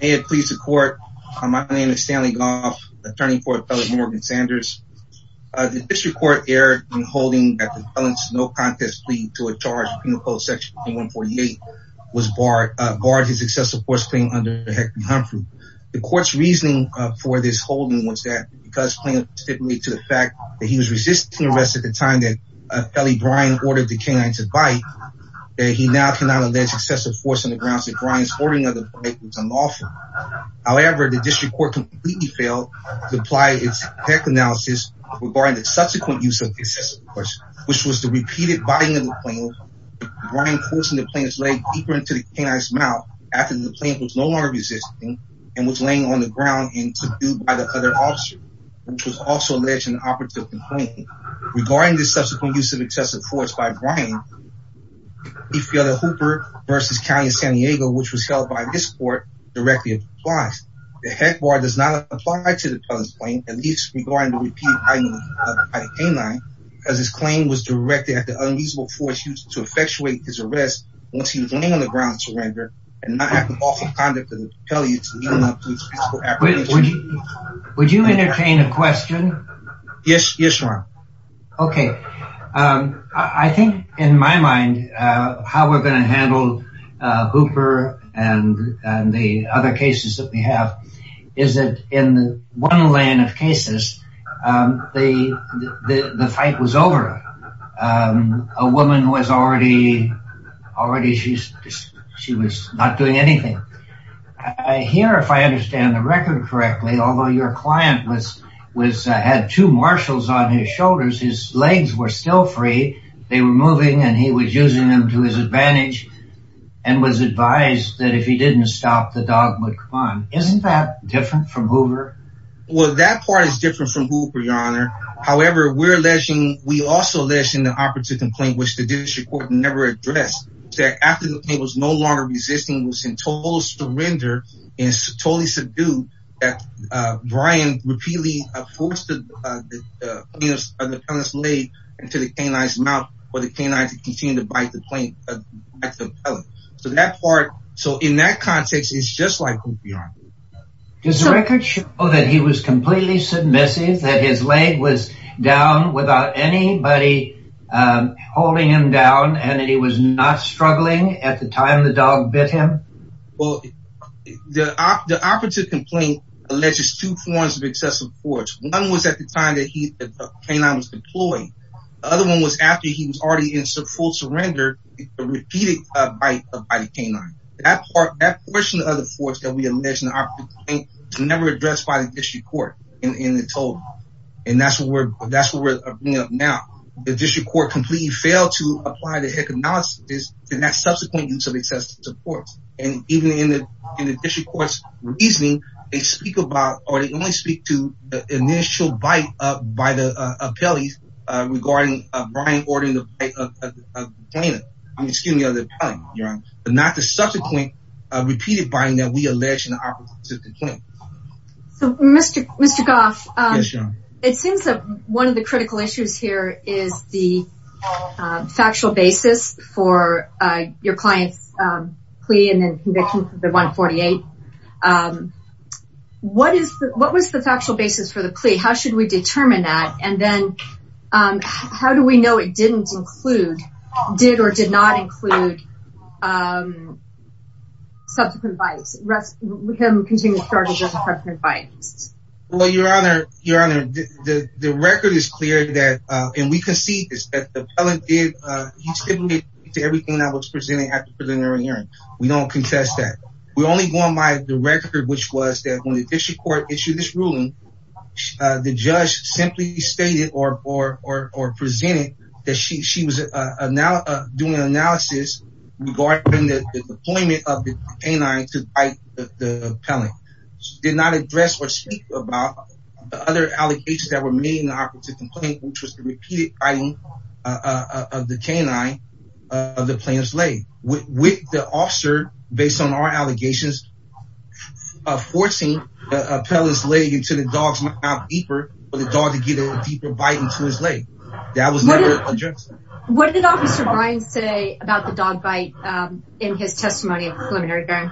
May it please the court, my name is Stanley Goff, attorney for Appellant Morgan Sanders. The district court erred in holding that the appellant's no contest plea to a charge in the post section 148 was barred, barred his excessive force claim under Hector Humphrey. The court's reasoning for this holding was that because plaintiff stipulated to the fact that he was resisting arrest at the time that Appellant Brian ordered the canine to bite, he now cannot allege excessive force on the grounds that Brian's ordering of the bite was unlawful. However, the district court completely failed to apply its analysis regarding the subsequent use of excessive force, which was the repeated biting of the plaintiff, Brian forcing the plaintiff's leg deeper into the canine's mouth after the plaintiff was no longer resisting and was laying on the ground and took due by the other officer, which was also alleged in the operative complaint. Regarding the subsequent use of excessive force by Brian, we feel that Hooper v. County of San Diego, which was held by this court, directly applies. The heck bar does not apply to the plaintiff's claim, at least regarding the repeated biting of the canine, because his claim was directed at the unfeasible force used to effectuate his arrest once he was laying on the ground to surrender and not have the awful conduct of the appellate to lead him to his physical apprehension. Would you entertain a question? Yes, sure. Okay. I think in my mind, how we're going to handle Hooper and the other cases that we have is that in one lane of cases, the fight was over. A woman was already, already she was not doing anything. Here, if I understand the record correctly, although your two marshals on his shoulders, his legs were still free. They were moving and he was using them to his advantage and was advised that if he didn't stop, the dog would come on. Isn't that different from Hooper? Well, that part is different from Hooper, your honor. However, we're alleging, we also allege in the operative complaint, which the district court never addressed, that after the plaintiff was no longer resisting, was in total surrender and totally subdued, that Brian repeatedly forced the plaintiff's leg into the canine's mouth for the canine to continue to bite the plaintiff. So that part, so in that context, it's just like Hooper, your honor. Does the record show that he was completely submissive, that his leg was down without anybody holding him down and that he was not struggling at the time the dog bit him? Well, the operative complaint alleges two forms of excessive force. One was at the time that he, the canine was deployed. The other one was after he was already in full surrender, a repeated bite by the canine. That part, that portion of the force that we allege in the operative complaint was never addressed by the district court in the total. And that's what we're, that's what we're bringing up now. The district court completely failed to address that subsequent use of excessive force. And even in the district court's reasoning, they speak about, or they only speak to the initial bite by the appellee regarding Brian ordering the bite of the plaintiff. I mean, excuse me, of the appellee, your honor. But not the subsequent repeated biting that we allege in the operative complaint. So, Mr. Goff, it seems that one of the critical issues here is the factual basis for your client's plea and then conviction for the 148. What is the, what was the factual basis for the plea? How should we determine that? And then how do we know it didn't include, did or did not include subsequent bites? Rest, we can continue to start as a subsequent bite. Well, your honor, your honor, the record is clear that, and we concede this, that the appellant did, he stipulated to everything that was presented at the preliminary hearing. We don't contest that. We only go on by the record, which was that when the district court issued this ruling, the judge simply stated or, or, or, or presented that she, she was now doing analysis regarding the deployment of the canine to bite the appellant. She did not address or speak about the other allegations that were made in the operative complaint, which was the repeated biting of the canine of the plaintiff's leg. With the officer, based on our allegations, forcing the appellant's leg into the dog's mouth deeper for the dog to get a deeper bite into his leg. That was never addressed. What did officer Bryan say about the dog bite in his testimony at the preliminary hearing?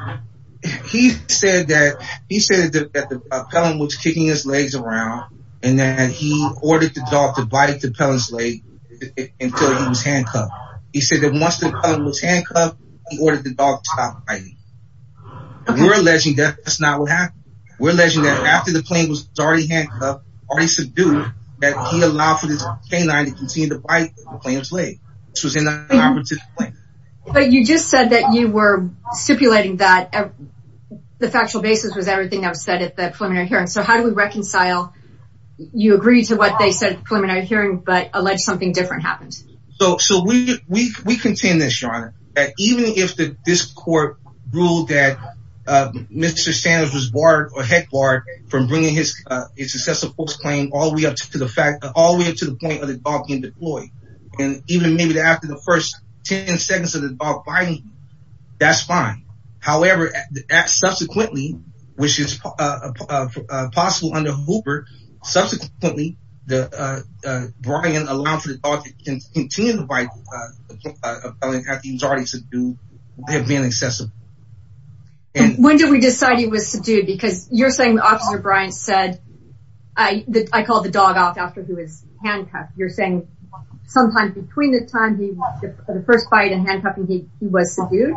He said that, he said that the appellant was kicking his legs around and that he ordered the dog to bite the appellant's leg until he was handcuffed. He said that once the appellant was handcuffed, he ordered the dog to stop biting. We're alleging that that's not what happened. We're alleging that after the plaintiff was already handcuffed, already subdued, that he allowed for this canine to continue to bite the plaintiff's leg, which was in the operative complaint. But you just said that you were stipulating that the factual basis was everything that was said at the preliminary hearing. So how do we reconcile, you agreed to what they said at the preliminary hearing, but alleged something different happened? So we contend this, your honor, that even if this court ruled that Mr. Sanders was barred or head barred from bringing his successive post claim all the way up to the fact, all the way up to the point of the dog being deployed, and even maybe after the first 10 seconds of the dog biting, that's fine. However, subsequently, which is possible under Hooper, subsequently, Brian allowed for the dog to continue to bite the appellant after he was already subdued. When did we decide he was subdued? Because you're saying Officer Brian said, I called the dog out after he was handcuffed. You're saying sometime between the time he the first bite and handcuffing, he was subdued?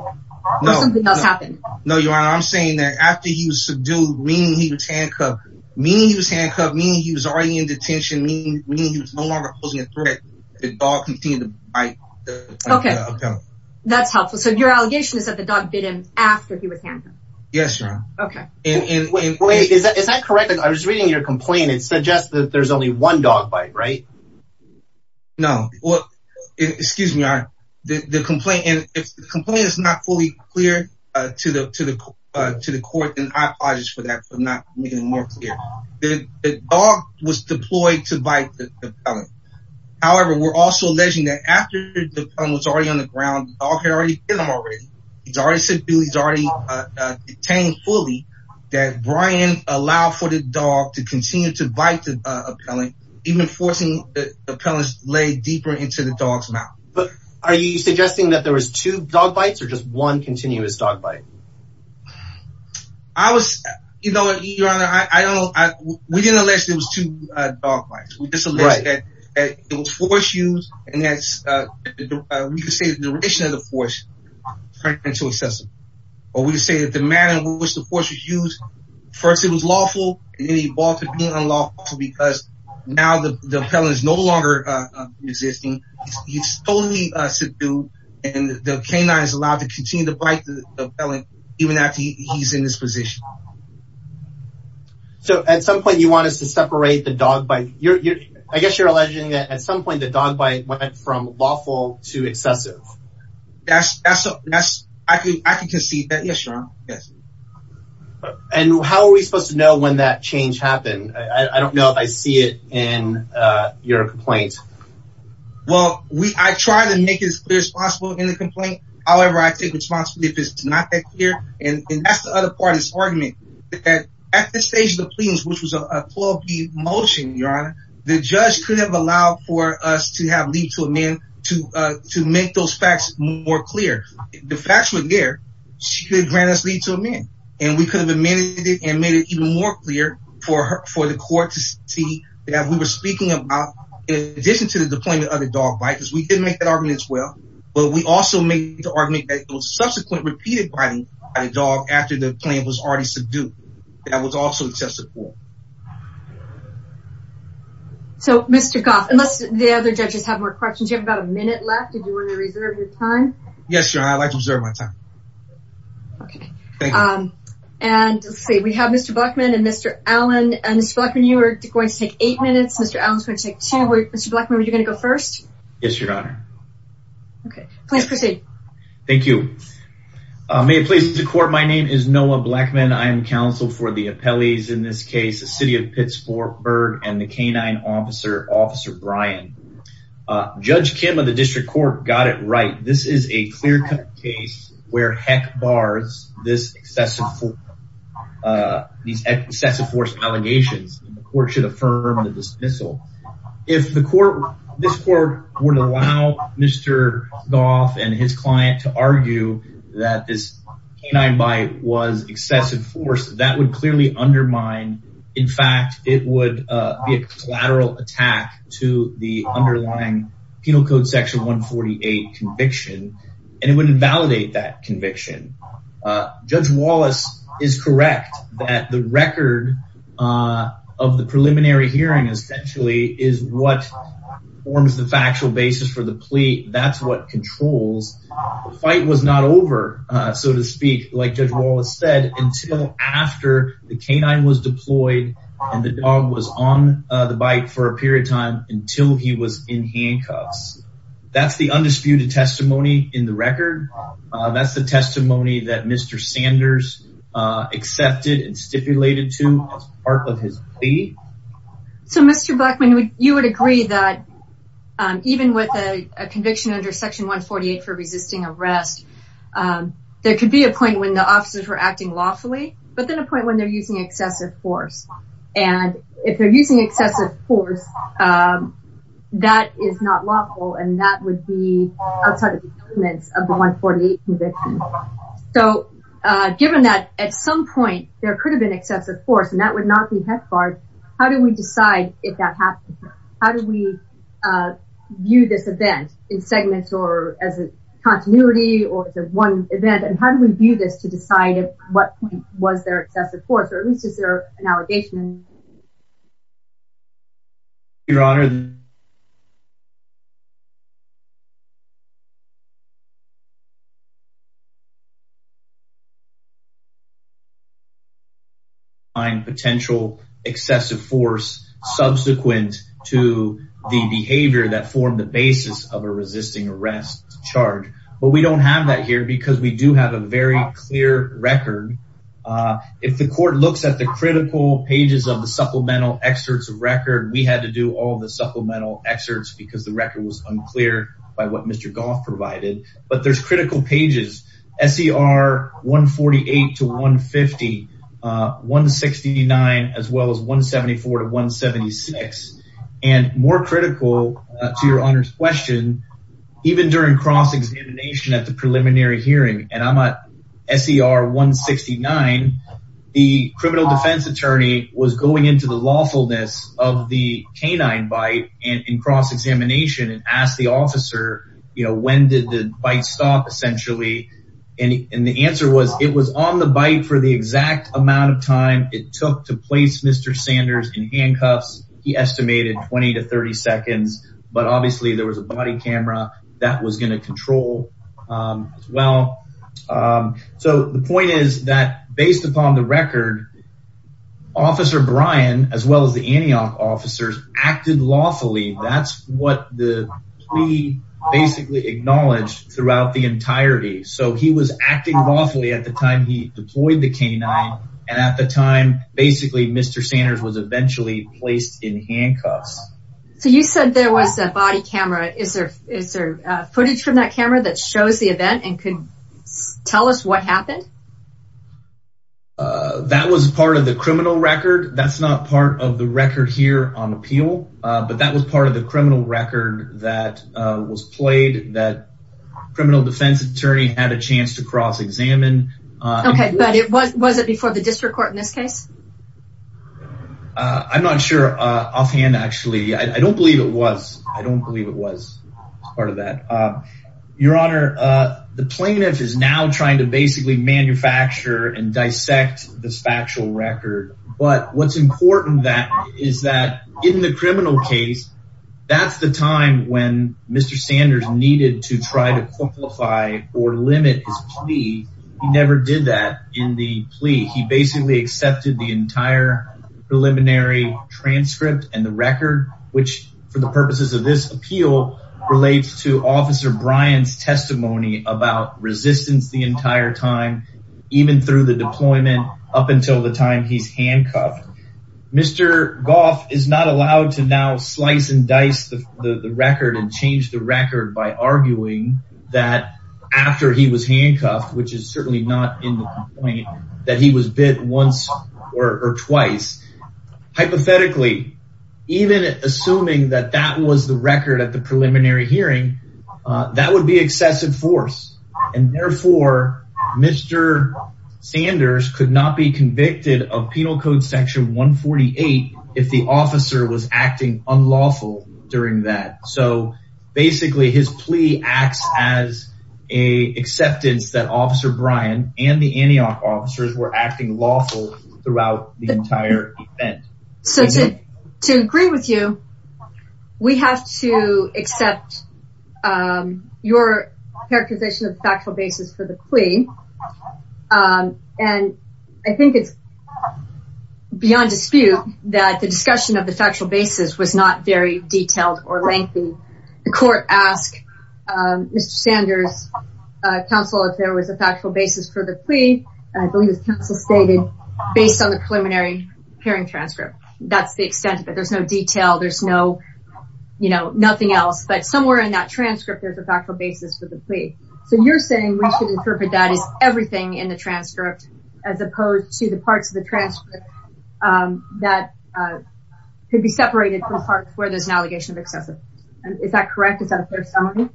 Or something else happened? No, your honor, I'm saying that after he was subdued, meaning he was handcuffed, meaning he was handcuffed, meaning he was already in detention, meaning he was no longer posing a threat, the dog continued to bite the appellant. Okay, that's helpful. So your allegation is that the dog bit him after he was handcuffed? Yes, your honor. Okay. Wait, is that correct? I was reading your complaint. It suggests that there's only one dog bite, right? No. Well, excuse me, your honor. The complaint is not fully clear to the court, and I apologize for that for not making it more clear. The dog was deployed to bite the appellant. However, we're also alleging that after the dog was already on the ground, the dog had already bitten him already. He's already subdued, he's already detained fully, that Brian allowed for the dog to continue to bite the appellant, even forcing the appellant's leg deeper into the dog's mouth. But are you suggesting that there was two dog bites or just one continuous dog bite? I was, you know, your honor, I don't know. We didn't allege there was two dog bites. We just allege that it was force used, and that's, we could say the duration of the force turned into excessive. Or we could say that the manner in which the force was used, first it was lawful, and then it evolved to being unlawful because now the appellant is no longer resisting. He's totally subdued, and the canine is allowed to continue to bite the appellant even after he's in this position. So at some point you want us to separate the dog bite. I guess you're alleging that at some point the dog bite went from lawful to excessive. That's, that's, that's, I could, I could concede that. Yes, your honor. Yes. And how are we supposed to know when that change happened? I don't know if I see it in your complaint. Well, we, I try to make it as clear as possible in the complaint. However, I take responsibility if it's not that clear, and that's the other part of this argument. That at this stage of the plea, which was a 12-P motion, your honor, the judge could have allowed for us to have leave to amend to, uh, to make those facts more clear. The facts were there. She could grant us leave to amend, and we could have amended it and made it even more clear for her, for the court to see that we were speaking about, in addition to the deployment of the dog bite, because we didn't make that argument as well, but we also made the argument that it was subsequent repeated by the dog after the claim was already subdued. That was also excessive. So, Mr. Goff, unless the other judges have more questions, you have about a minute left. Did you want to reserve your time? Yes, your honor. I'd like to reserve my time. Okay. Um, and let's see. We have Mr. Blackman and Mr. Allen. Mr. Blackman, you are going to take eight minutes. Mr. Allen's going to take two. Mr. Blackman, were you going to go first? Yes, your honor. Okay, please proceed. Thank you. May it please the court. My name is Noah Blackman. I am counsel for the appellees in this case, the city of Pittsburgh and the canine officer, officer Brian. Judge Kim of the district court got it right. This is a clear cut case where heck bars this excessive, uh, these excessive force allegations. The court should affirm the dismissal. If the court, this court would allow Mr. Goff and his client to argue that this canine bite was excessive force that would clearly undermine. In fact, it would be a collateral attack to the underlying penal code section 148 conviction. And it wouldn't validate that conviction. Uh, judge Wallace is correct that the record, uh, of the preliminary hearing essentially is what forms the factual basis for the plea. That's what controls. The fight was not over, uh, so to speak, like judge Wallace said until after the canine was deployed and the dog was on the bike for a period of time until he was in handcuffs. That's the undisputed testimony in the record. Uh, that's the testimony that Mr. Sanders, uh, accepted and stipulated to as part of his plea. So Mr. Blackman would, you would agree that, um, even with a conviction under section 148 for resisting arrest, um, there could be a point when the officers were acting lawfully, but then a point when they're using excessive force. And if they're using excessive force, um, that is not lawful. And that would be outside of the given that at some point there could have been excessive force, and that would not be head card. How do we decide if that happens? How do we, uh, view this event in segments or as a continuity or as one event? And how do we view this to decide at what point was there excessive force, or at least is there an allegation? Your honor, we do not find potential excessive force subsequent to the behavior that formed the basis of a resisting arrest charge, but we don't have that here because we do have a very clear record. Uh, if the court looks at the critical pages of the supplemental excerpts of record, we had to do all the supplemental excerpts because the record was unclear by what Mr. Goff provided, but there's critical pages. SER 148 to 150, uh, 169, as well as 174 to 176. And more critical to your honor's question, even during cross-examination at the preliminary hearing, and I'm at SER 169, the criminal defense attorney was going into the lawfulness of the canine bite and in cross-examination and asked the officer, you know, when did the bite stop essentially? And the answer was it was on the bite for the exact amount of time it took to place Mr. Sanders in handcuffs. He estimated 20 to 30 seconds, but obviously there was a body camera that was going to control, um, as well. Um, so the point is that based upon the record, officer Brian, as well as the Antioch officers acted lawfully. That's what the plea basically acknowledged throughout the entirety. So he was acting lawfully at the time he deployed the canine. And at the time, basically Mr. Sanders was eventually placed in handcuffs. So you said there was a body camera. Is there, is there a footage from that camera that shows the event and can tell us what happened? Uh, that was part of criminal record. That's not part of the record here on appeal. Uh, but that was part of the criminal record that, uh, was played that criminal defense attorney had a chance to cross examine. Okay. But it was, was it before the district court in this case? Uh, I'm not sure. Uh, offhand, actually, I don't believe it was, I don't believe it was part of that. Uh, your honor, uh, the plaintiff is now trying to basically manufacture and dissect this factual record. But what's important that is that in the criminal case, that's the time when Mr. Sanders needed to try to qualify or limit his plea. He never did that in the plea. He basically accepted the entire preliminary transcript and the record, which for the purposes of this appeal relates to officer Brian's testimony about resistance the entire time, even through the up until the time he's handcuffed. Mr. Goff is not allowed to now slice and dice the record and change the record by arguing that after he was handcuffed, which is certainly not in the complaint that he was bit once or twice. Hypothetically, even assuming that that was the record at the of penal code section 148, if the officer was acting unlawful during that. So basically his plea acts as a acceptance that officer Brian and the Antioch officers were acting lawful throughout the entire event. So to agree with you, we have to accept, um, your characterization of factual basis for the plea. Um, and I think it's beyond dispute that the discussion of the factual basis was not very detailed or lengthy. The court asked, um, Mr. Sanders, uh, counsel, if there was a factual basis for the plea. And I believe it's stated based on the preliminary hearing transcript. That's the extent of it. There's no detail. There's no, you know, nothing else, but somewhere in that transcript, there's a factual basis for the plea. So you're saying we should interpret that as everything in the transcript, as opposed to the parts of the transcript, um, that, uh, could be separated from parts where there's an allegation of excessive. Is that correct? Is that a fair summary?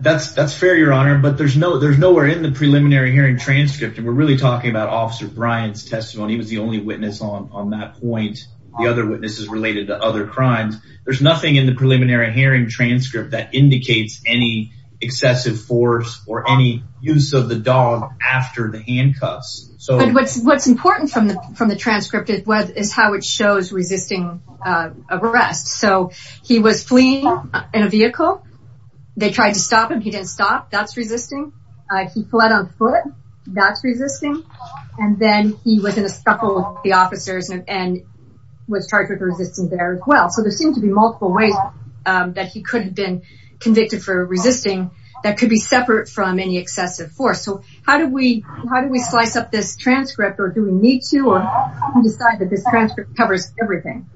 That's, that's fair, Your Honor. But there's no, there's nowhere in the preliminary hearing transcript. And we're really talking about officer Brian's testimony. He was the only witness on, on that point. The other witnesses related to other crimes. There's nothing in the preliminary hearing transcript that indicates any excessive force or any use of the dog after the handcuffs. So what's, what's important from the, from the transcript is what is how it shows resisting, uh, arrest. So he was fleeing in a vehicle. They tried to stop him. He didn't stop. That's resisting. Uh, he fled on foot. That's resisting. And then he was in a scuffle with the officers and was charged with resisting there as seemed to be multiple ways, um, that he could have been convicted for resisting that could be separate from any excessive force. So how do we, how do we slice up this transcript or do we need to decide that this transcript covers everything?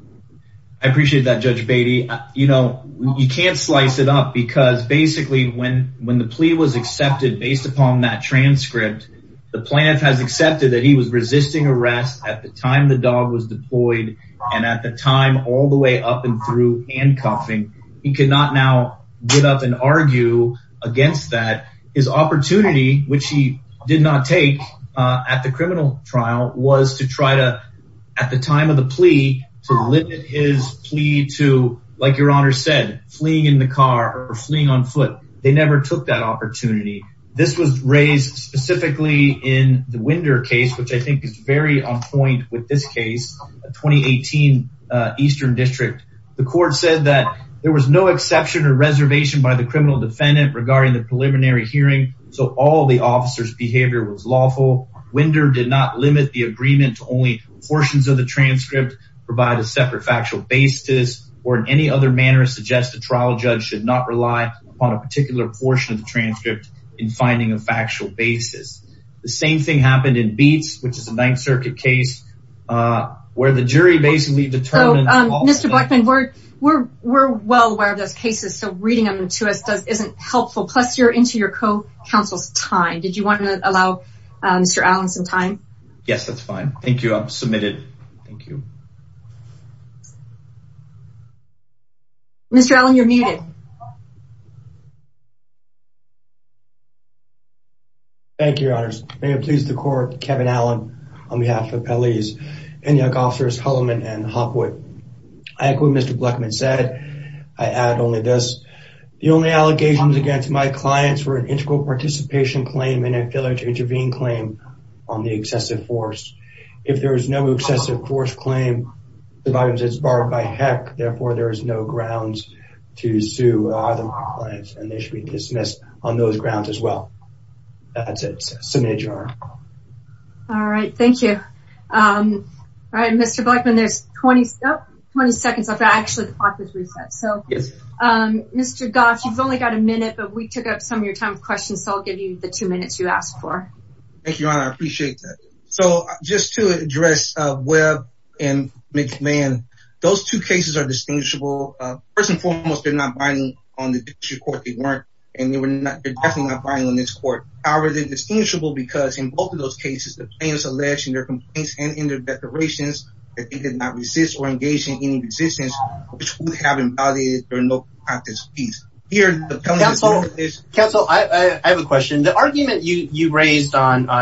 I appreciate that judge Beatty, you know, you can't slice it up because basically when, when the plea was accepted based upon that transcript, the plaintiff has accepted that he was resisting arrest at the time the dog was deployed. And at the time, all the way up and through handcuffing, he could not now get up and argue against that. His opportunity, which he did not take, uh, at the criminal trial was to try to, at the time of the plea to limit his plea to like your honor said fleeing in the car or fleeing on foot. They never took that opportunity. This was raised specifically in the Winder case, which I Eastern district. The court said that there was no exception or reservation by the criminal defendant regarding the preliminary hearing. So all the officer's behavior was lawful. Winder did not limit the agreement to only portions of the transcript provide a separate factual basis or in any other manner suggests the trial judge should not rely upon a particular portion of the transcript in finding a factual basis. The same thing happened in Beats, which the jury basically determined. Mr. Blackman, we're, we're, we're well aware of those cases. So reading them to us doesn't, isn't helpful. Plus you're into your co-counsel's time. Did you want to allow Mr. Allen some time? Yes, that's fine. Thank you. I've submitted. Thank you. Thank you, your honors. May it please the court, Kevin Allen on behalf of Pelley's and Young officers, Hulleman and Hopwood. I agree with Mr. Blackman said, I add only this, the only allegations against my clients were an integral participation claim and a failure to intervene claim on the excessive force. If there is no excessive force claim, it's barred by heck. Therefore, there is no grounds to sue the clients and they should be dismissed on those grounds as well. That's it. All right. Thank you. All right. Mr. Blackman, there's 20, 20 seconds. I've got actually the clock is reset. So, um, Mr. Goff, you've only got a minute, but we took up some of your time of questions. So I'll give you the two minutes you asked for. Thank you, your honor. I appreciate that. So just to address, uh, web and make man, those two cases are distinguishable. Uh, first and foremost, they're not binding on the court. They weren't, and they were not, they're definitely not buying on this court. However, they're distinguishable because in both of those cases, the plan is alleged in their complaints and in their declarations that they did not resist or engage in any resistance, which would on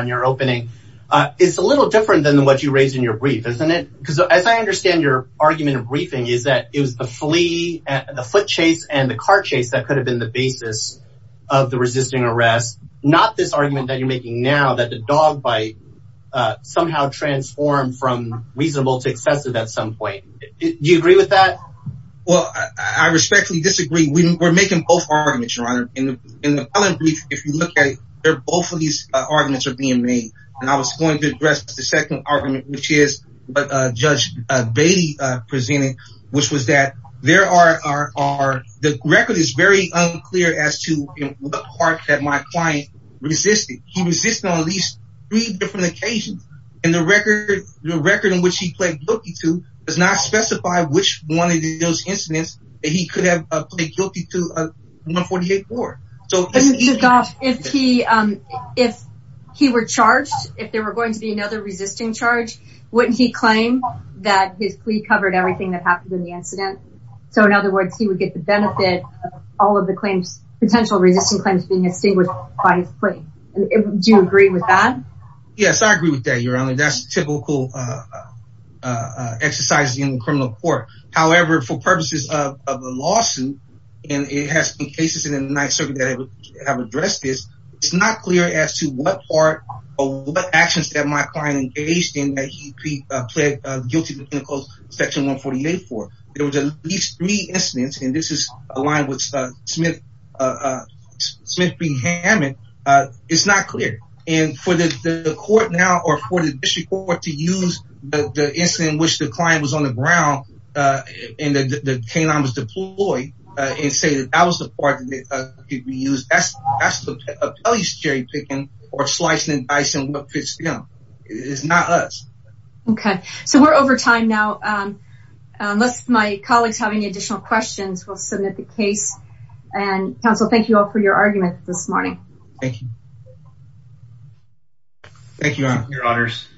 your opening. Uh, it's a little different than what you raised in your brief, isn't it? Because as I understand your argument of briefing is that it was the flea and the foot chase and the car chase that could have been the basis of the resisting arrest. Not this argument that you're making now that the dog bite, uh, somehow transformed from reasonable to excessive at some point. Do you agree with that? Well, I respectfully disagree. We were making both of these arguments are being made and I was going to address the second argument, which is what, uh, judge, uh, baby, uh, presented, which was that there are, are, are the record is very unclear as to what part that my client resisted. He resisted on at least three different occasions and the record, the record in which he played bookie to does not specify which one of those that he could have played guilty to a 148 war. So if he, um, if he were charged, if there were going to be another resisting charge, wouldn't he claim that his plea covered everything that happened in the incident? So in other words, he would get the benefit of all of the claims, potential resisting claims being extinguished by his claim. Do you agree with that? Yes, I agree with that. You're on it. That's typical, uh, uh, uh, exercise in the criminal court. However, for purposes of a lawsuit and it has been cases in the ninth circuit that have addressed this, it's not clear as to what part or what actions that my client engaged in that he, uh, pled guilty to section 148 for it was at least three incidents. And this is aligned with, uh, Smith, uh, uh, Smith being Hammond. Uh, it's not clear. And for the court now or for the district to use the incident in which the client was on the ground, uh, and the canine was deployed, uh, and say that that was the part that could be used as a cherry picking or slicing and dicing. It's not us. Okay. So we're over time now. Um, unless my colleagues have any additional questions, we'll submit the case and counsel. Thank you all for your argument this morning. Thank you. Thank you all. Your honors.